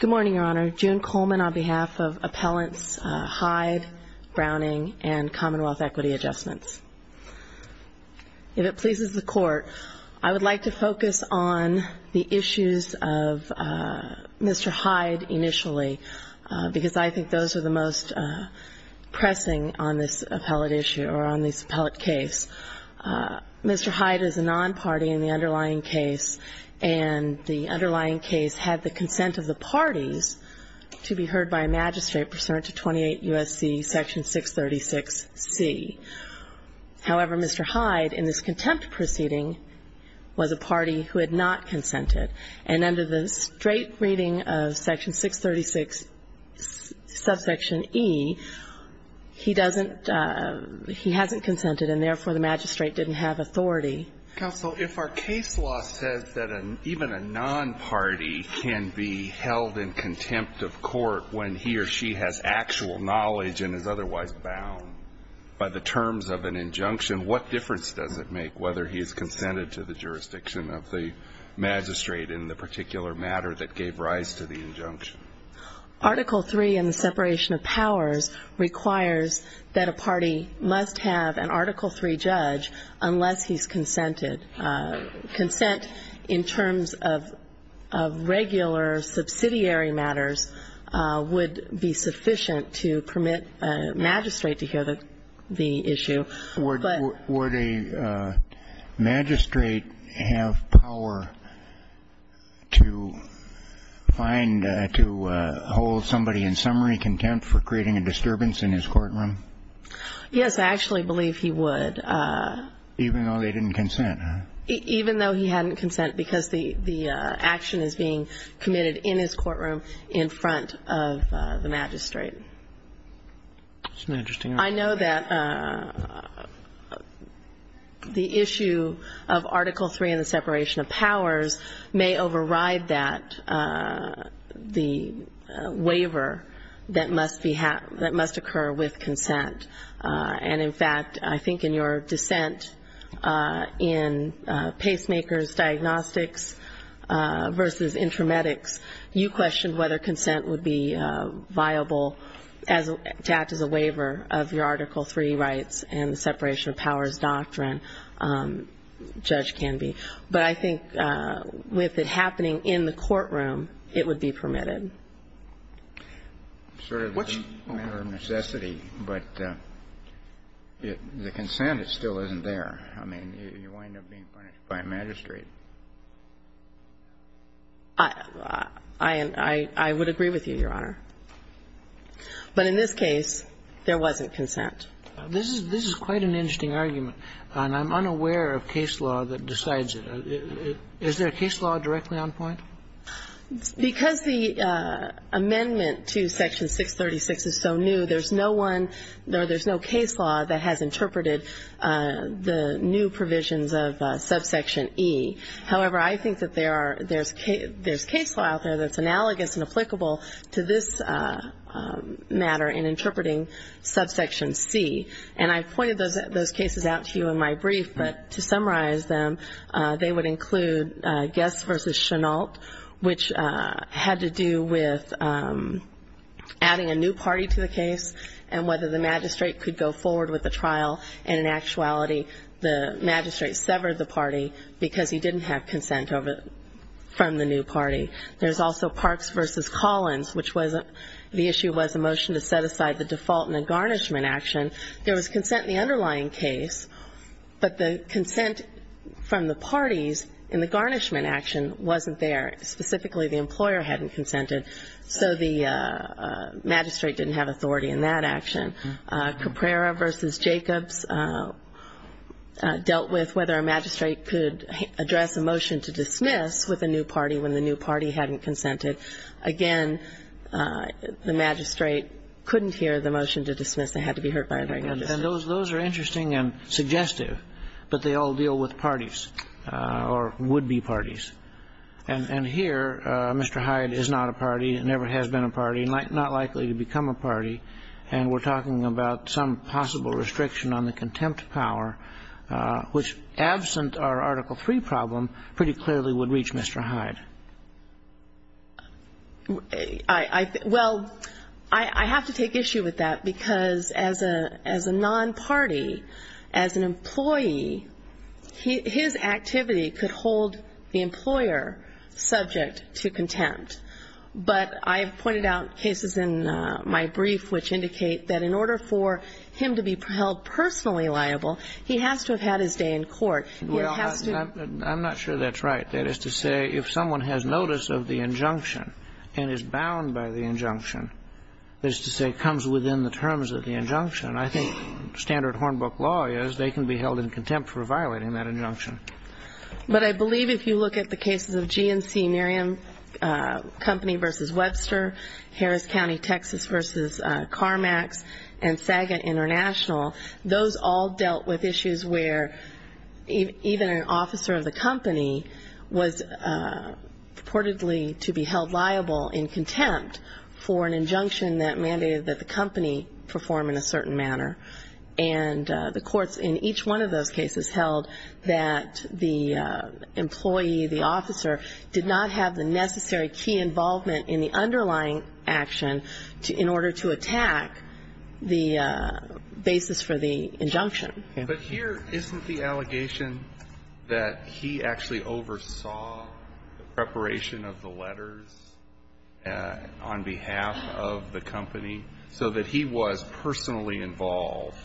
Good morning, Your Honor. June Coleman on behalf of Appellants Hyde, Browning, and Commonwealth Equity Adjustments. If it pleases the Court, I would like to focus on the issues of Mr. Hyde initially, because I think those are the most pressing on this appellate issue or on this appellate case. Mr. Hyde is a non-party in the underlying case and the underlying case had the consent of the parties to be heard by a magistrate pursuant to 28 U.S.C. Section 636C. However, Mr. Hyde, in this contempt proceeding, was a party who had not consented and under the straight reading of Section 636 subsection E, he doesn't, he hasn't consented and therefore the magistrate didn't have authority. Counsel, if our case law says that even a non-party can be held in contempt of court when he or she has actual knowledge and is otherwise bound by the terms of an injunction, what difference does it make whether he is consented to the jurisdiction of the magistrate in the particular matter that gave rise to the injunction? Article III in the separation of powers requires that a party must have an Article III judge unless he's consented. Consent in terms of regular subsidiary matters would be sufficient to permit a magistrate to hear the issue. But the question is, would a magistrate have power to find, to hold somebody in summary contempt for creating a disturbance in his courtroom? Yes, I actually believe he would. Even though they didn't consent, huh? Even though he hadn't consent because the action is being committed in his courtroom in front of the magistrate. That's an interesting argument. I know that the issue of Article III in the separation of powers may override that, the waiver that must occur with consent. And in fact, I think in your dissent in pacemakers diagnostics versus intramedics, you questioned whether consent would be viable to act as a waiver of your Article III rights and the separation of powers doctrine, judge can be. But I think with it happening in the courtroom, it would be permitted. It's sort of a matter of necessity, but the consent, it still isn't there. I mean, you wind up being punished by a magistrate. I would agree with you, Your Honor. But in this case, there wasn't consent. This is quite an interesting argument. And I'm unaware of case law that decides it. Is there a case law directly on point? Because the amendment to Section 636 is so new, there's no one or there's no case law that has interpreted the new provisions of subsection E. However, I think that there are, there's case law out there that's analogous and applicable to this matter in interpreting subsection C. And I've pointed those cases out to you in my brief, but to summarize them, they would include Guest versus Chennault, which had to do with adding a new party to the case and whether the magistrate could go forward with the trial. And in actuality, the magistrate severed the party because he didn't have consent from the new party. There's also Parks versus Collins, which the issue was a motion to set aside the default in a garnishment action. There was consent in the underlying case, but the consent from the parties in the garnishment action wasn't there. Specifically, the employer hadn't consented, so the magistrate didn't have authority in that action. Caprera versus Jacobs dealt with whether a magistrate could address a new party hadn't consented. Again, the magistrate couldn't hear the motion to dismiss. They had to be heard by a regular district. And those are interesting and suggestive, but they all deal with parties or would-be parties. And here, Mr. Hyde is not a party, never has been a party, not likely to become a party, and we're talking about some possible restriction on the contempt power, which, absent our Article III problem, pretty clearly would reach Mr. Hyde. Well, I have to take issue with that because as a non-party, as an employee, his activity could hold the employer subject to contempt. But I have pointed out cases in my brief which indicate that in order for him to be held personally liable, he has to have had his day in court. Well, I'm not sure that's right. That is to say, if someone has notice of the injunction and is bound by the injunction, that is to say, comes within the terms of the injunction, I think standard Hornbook law is they can be held in contempt for violating that injunction. But I believe if you look at the cases of GNC Miriam Company versus Webster, Harris County, Texas versus CarMax, and Saga International, those all dealt with issues where even an officer of the company was purportedly to be held liable in contempt for an injunction that mandated that the company perform in a certain manner. And the courts in each one of those cases held that the employee, the company, had a right to have a fair and justifying action in order to attack the basis for the injunction. But here, isn't the allegation that he actually oversaw the preparation of the letters on behalf of the company so that he was personally involved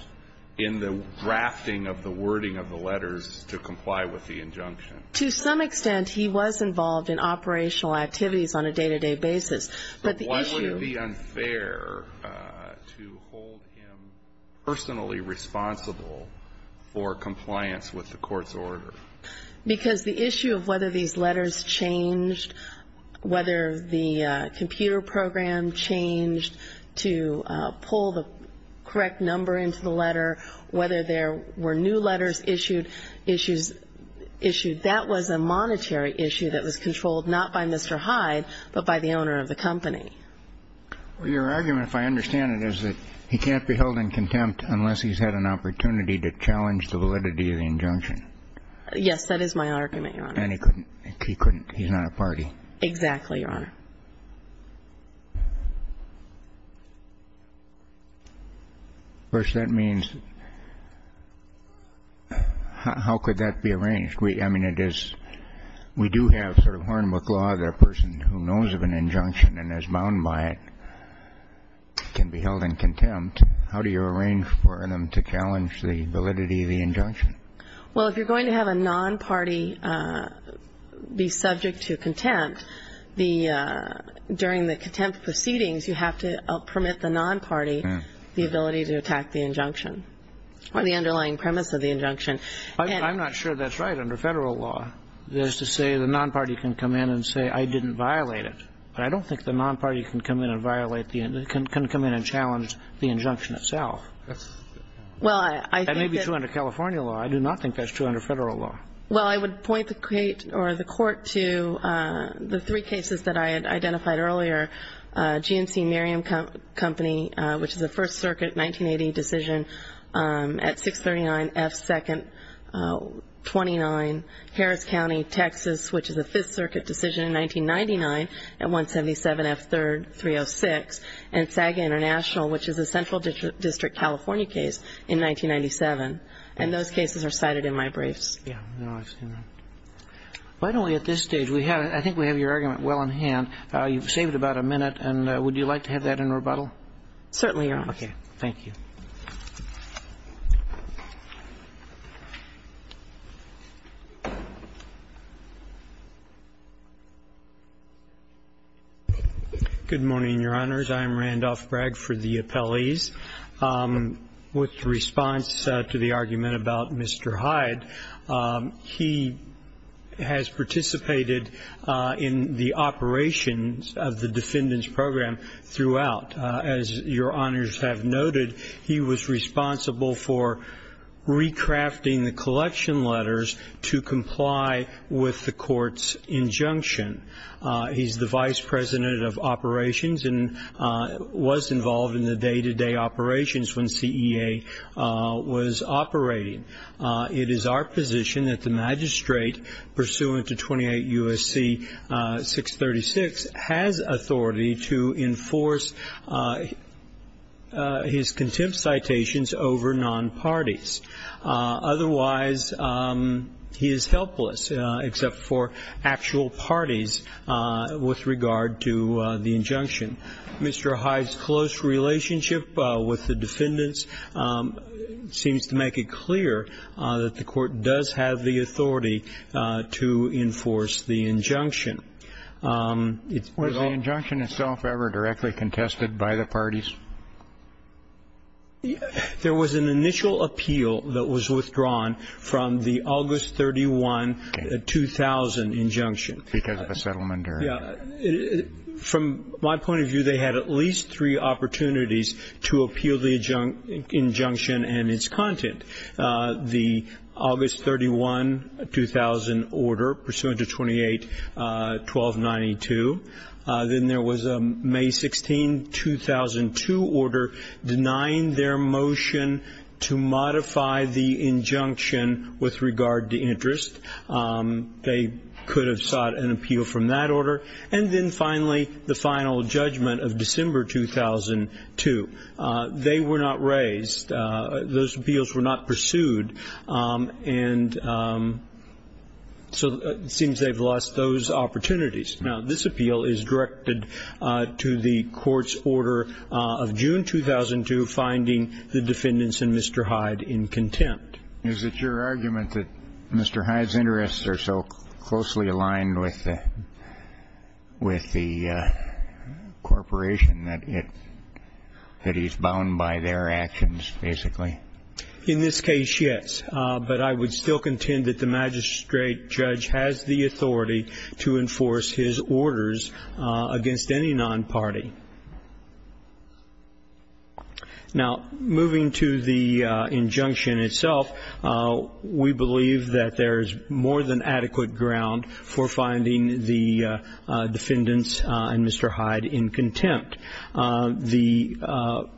in the drafting of the wording of the letters to comply with the injunction? To some extent, he was involved in operational activities on a day-to-day basis. But the issue Why would it be unfair to hold him personally responsible for compliance with the court's order? Because the issue of whether these letters changed, whether the computer program changed to pull the correct number into the letter, whether there were new letters issued, that was a monetary issue that was controlled not by Mr. Hyde, but by the owner of the company. Well, your argument, if I understand it, is that he can't be held in contempt unless he's had an opportunity to challenge the validity of the injunction. Yes, that is my argument, Your Honor. And he couldn't. He's not a party. Exactly, Your Honor. First, that means how could that be arranged? I mean, it is we do have sort of Horn-McLaw, the person who knows of an injunction and is bound by it, can be held in contempt. How do you arrange for them to challenge the validity of the injunction? Well, if you're going to have a non-party be subject to contempt, the person who And if you're going to have a non-party be subject to contempt, then during the contempt proceedings, you have to permit the non-party the ability to attack the injunction or the underlying premise of the injunction. I'm not sure that's right under Federal law. That is to say the non-party can come in and say, I didn't violate it. But I don't think the non-party can come in and violate the injunction, can come in and challenge the injunction itself. That may be true under California law. I do not think that's true under Federal law. Well, I would point the Court to the three cases that I had identified earlier, GNC Miriam Company, which is a First Circuit 1980 decision at 639 F. 2nd 29, Harris County, Texas, which is a Fifth Circuit decision in 1999 at 177 F. 3rd 306, and SAGA International, which is a Central District California case in 1997. And those cases are cited in my briefs. Yeah. No, I've seen them. Why don't we, at this stage, we have, I think we have your argument well in hand. You've saved about a minute. And would you like to have that in rebuttal? Certainly, Your Honor. Okay. Thank you. Good morning, Your Honors. I am Randolph Bragg for the appellees. With response to the argument about Mr. Hyde, he has participated in the operations of the defendant's program throughout. As Your Honors have noted, he was responsible for recrafting the collection letters to comply with the court's injunction. He's the vice president of operations and was involved in the day-to-day operations when CEA was operating. It is our position that the magistrate, pursuant to 28 U.S.C. 636, has authority to enforce his contempt citations over non-parties. Otherwise, he is helpless except for actual parties with regard to the injunction. Mr. Hyde's close relationship with the defendants seems to make it clear that the court does have the authority to enforce the injunction. Was the injunction itself ever directly contested by the parties? There was an initial appeal that was withdrawn from the August 31, 2000, injunction. Because of a settlement? From my point of view, they had at least three opportunities to appeal the injunction and its content. The August 31, 2000 order, pursuant to 28 U.S.C. 1292. Then there was a May 16, 2002 order denying their motion to modify the injunction with regard to interest. They could have sought an appeal from that order. And then finally, the final judgment of December 2002. They were not raised. Those appeals were not pursued. And so it seems they've lost those opportunities. Now, this appeal is directed to the court's order of June 2002, finding the defendants and Mr. Hyde in contempt. Is it your argument that Mr. Hyde's interests are so closely aligned with the corporation that he's bound by their actions, basically? In this case, yes. But I would still contend that the magistrate judge has the authority to enforce his orders against any non-party. Now, moving to the injunction itself, we believe that there is more than adequate ground for finding the defendants and Mr. Hyde in contempt. The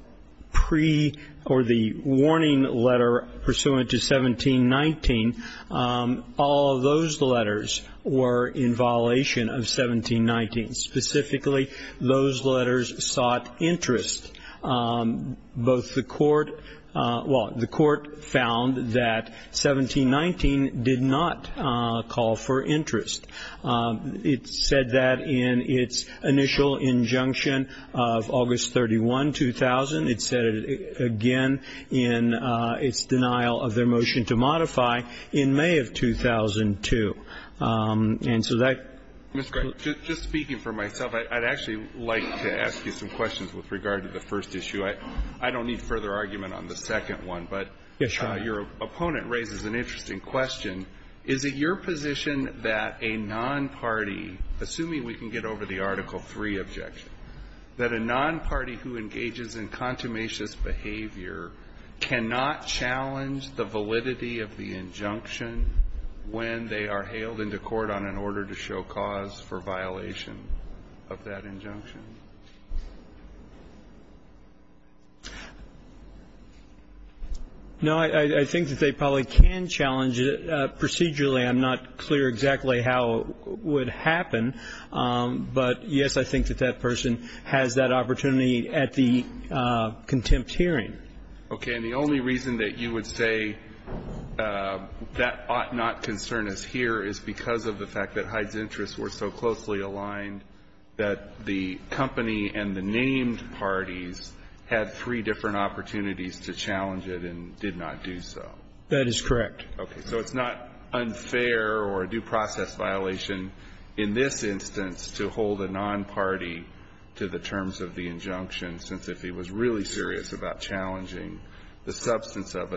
pre or the warning letter pursuant to 1719, all of those letters were in violation of 1719. Specifically, those letters sought interest. Both the court ñ well, the court found that 1719 did not call for interest. It said that in its initial injunction of August 31, 2000. It said it again in its denial of their motion to modify in May of 2002. And so tható Mr. Gray, just speaking for myself, I'd actually like to ask you some questions with regard to the first issue. I don't need further argument on the second one. But your opponent raises an interesting question. Is it your position that a non-party, assuming we can get over the Article III objection, that a non-party who engages in consummationist behavior cannot challenge the validity of the injunction when they are hailed into court on an order to show cause for violation of that injunction? No, I think that they probably can challenge it. Procedurally, I'm not clear exactly how it would happen. But, yes, I think that that person has that opportunity at the contempt hearing. Okay. And the only reason that you would say that ought not concern us here is because of the fact that Hyde's interests were so closely aligned that the company and the named parties had three different opportunities to challenge it and did not do so. That is correct. Okay. So it's not unfair or a due process violation in this instance to hold a non-party to the terms of the injunction, since if he was really serious about challenging the substance of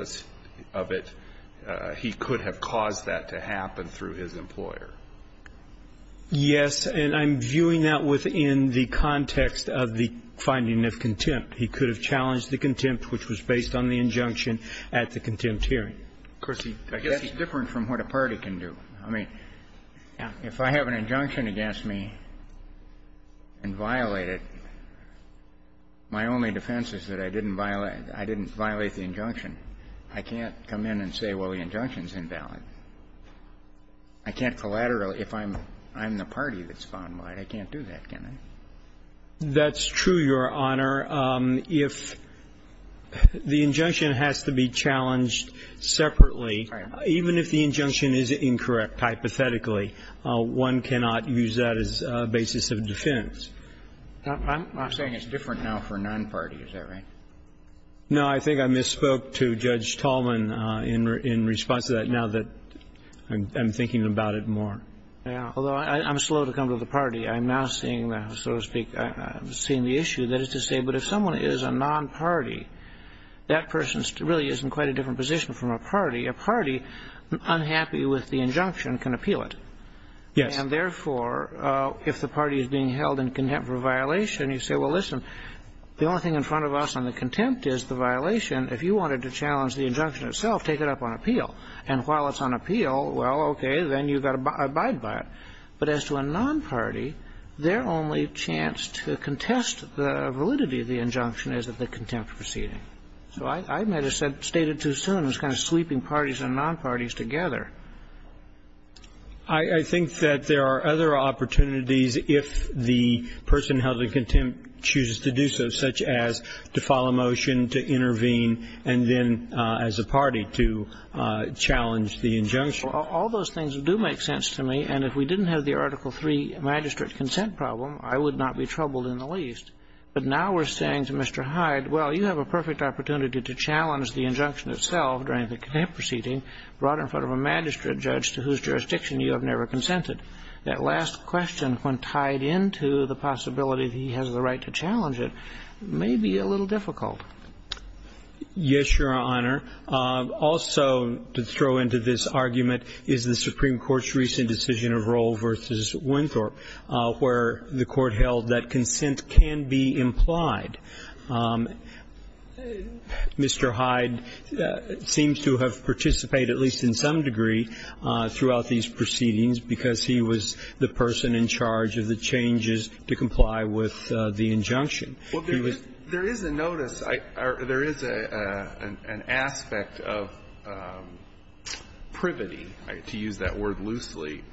it, he could have caused that to happen through his employer? Yes. And I'm viewing that within the context of the finding of contempt. He could have challenged the contempt which was based on the injunction at the contempt hearing. Of course, I guess it's different from what a party can do. I mean, if I have an injunction against me and violate it, my only defense is that I didn't violate the injunction. I can't come in and say, well, the injunction is invalid. I can't collaterally, if I'm the party that's found right, I can't do that, can I? That's true, Your Honor. If the injunction has to be challenged separately, even if the injunction is incorrect, hypothetically, one cannot use that as a basis of defense. I'm saying it's different now for a non-party. Is that right? No. I think I misspoke to Judge Tallman in response to that, now that I'm thinking about it more. Yeah. Although I'm slow to come to the party. I'm now seeing, so to speak, seeing the issue. That is to say, but if someone is a non-party, that person really is in quite a different position from a party. A party, unhappy with the injunction, can appeal it. Yes. And therefore, if the party is being held in contempt for a violation, you say, well, listen, the only thing in front of us on the contempt is the violation. If you wanted to challenge the injunction itself, take it up on appeal. And while it's on appeal, well, okay, then you've got to abide by it. But as to a non-party, their only chance to contest the validity of the injunction is at the contempt proceeding. So I might have stated too soon, it's kind of sweeping parties and non-parties together. I think that there are other opportunities if the person held in contempt chooses to do so, such as to file a motion, to intervene, and then as a party to challenge the injunction. All those things do make sense to me. And if we didn't have the Article III magistrate consent problem, I would not be troubled in the least. But now we're saying to Mr. Hyde, well, you have a perfect opportunity to challenge the injunction itself during the contempt proceeding brought in front of a magistrate judge to whose jurisdiction you have never consented. That last question, when tied into the possibility that he has the right to challenge it, may be a little difficult. Yes, Your Honor. Also to throw into this argument is the Supreme Court's recent decision of Roll v. Winthorpe, where the Court held that consent can be implied. Mr. Hyde seems to have participated, at least in some degree, throughout these proceedings because he was the person in charge of the changes to comply with the injunction. Well, there is a notice or there is an aspect of privity, to use that word loosely,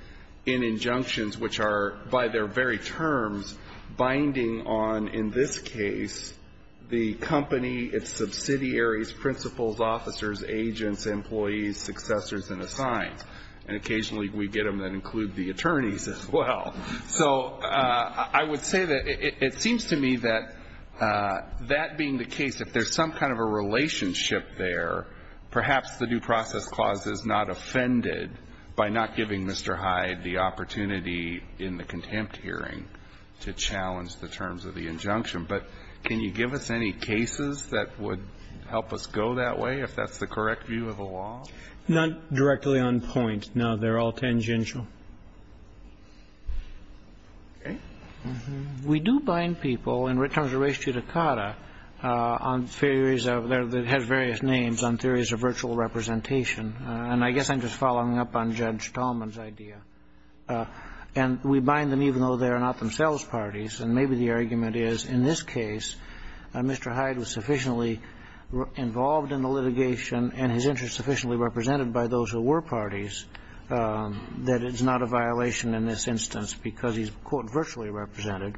in injunctions which are, by their very terms, binding on, in this case, the company, its subsidiaries, principals, officers, agents, employees, successors, and assigned. And occasionally we get them that include the attorneys as well. So I would say that it seems to me that that being the case, if there's some kind of a relationship there, perhaps the Due Process Clause is not offended by not giving Mr. Hyde the opportunity in the contempt hearing to challenge the terms of the injunction. But can you give us any cases that would help us go that way, if that's the correct view of the law? Not directly on point. No, they're all tangential. Okay. We do bind people in terms of res judicata on theories of their various names on theories of virtual representation. And I guess I'm just following up on Judge Tallman's idea. And we bind them even though they are not themselves parties. And maybe the argument is, in this case, Mr. Hyde was sufficiently involved in the litigation and his interest sufficiently represented by those who were parties, that it's not a violation in this instance because he's, quote, virtually represented.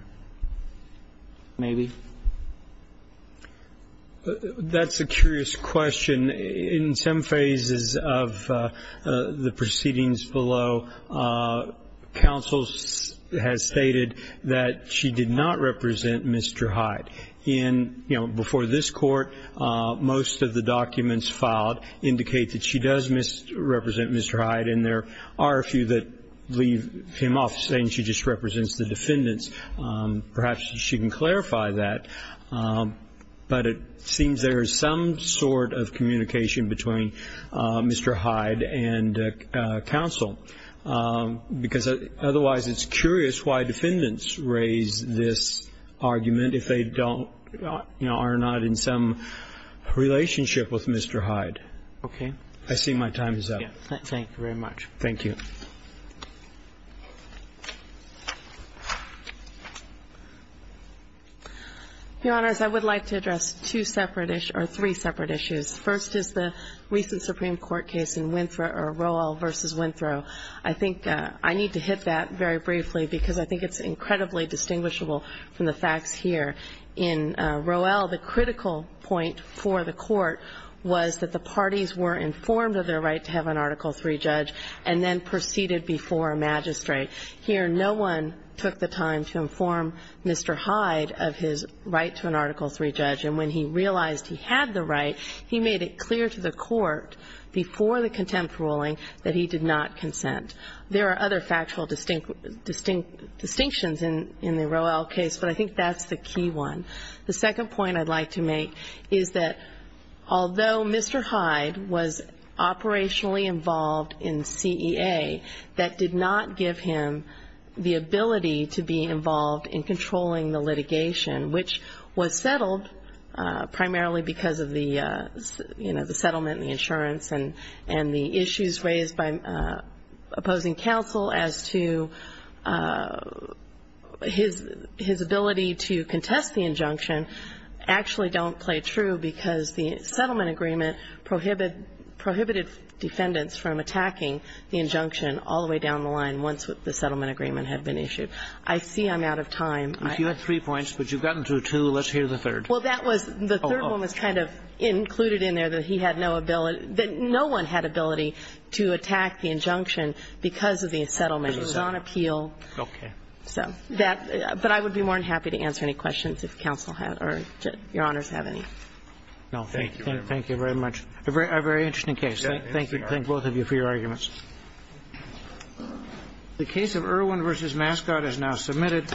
That's a curious question. In some phases of the proceedings below, counsel has stated that she did not represent Mr. Hyde. Before this court, most of the documents filed indicate that she does represent Mr. Hyde, and there are a few that leave him off saying she just represents the defendants. Perhaps she can clarify that. But it seems there is some sort of communication between Mr. Hyde and counsel, because otherwise it's curious why defendants raise this argument if they don't, you know, are not in some relationship with Mr. Hyde. Okay. I see my time is up. Thank you very much. Thank you. Your Honors, I would like to address two separate issues or three separate issues. First is the recent Supreme Court case in Winthrow or Roel v. Winthrow. I think I need to hit that very briefly because I think it's incredibly distinguishable from the facts here. In Roel, the critical point for the Court was that the parties were informed of their right to have an Article III judge and then proceeded before a magistrate. Here, no one took the time to inform Mr. Hyde of his right to an Article III judge, and when he realized he had the right, he made it clear to the Court before the contempt ruling that he did not consent. There are other factual distinctions in the Roel case, but I think that's the key one. The second point I'd like to make is that although Mr. Hyde was operationally involved in CEA, that did not give him the ability to be involved in controlling the litigation, which was settled primarily because of the, you know, the settlement and the insurance and the issues raised by opposing counsel as to his ability to contest the injunction actually don't play true because the settlement agreement prohibited defendants from attacking the injunction all the way down the line once the settlement agreement had been issued. I see I'm out of time. If you had three points, but you've gotten to two, let's hear the third. Well, that was the third one was kind of included in there that he had no ability that no one had ability to attack the injunction because of the settlement. It was on appeal. Okay. So that, but I would be more than happy to answer any questions if counsel had or Your Honors have any. No. Thank you. Thank you very much. A very interesting case. Thank you. Thank both of you for your arguments. The case of Irwin v. Mascot is now submitted.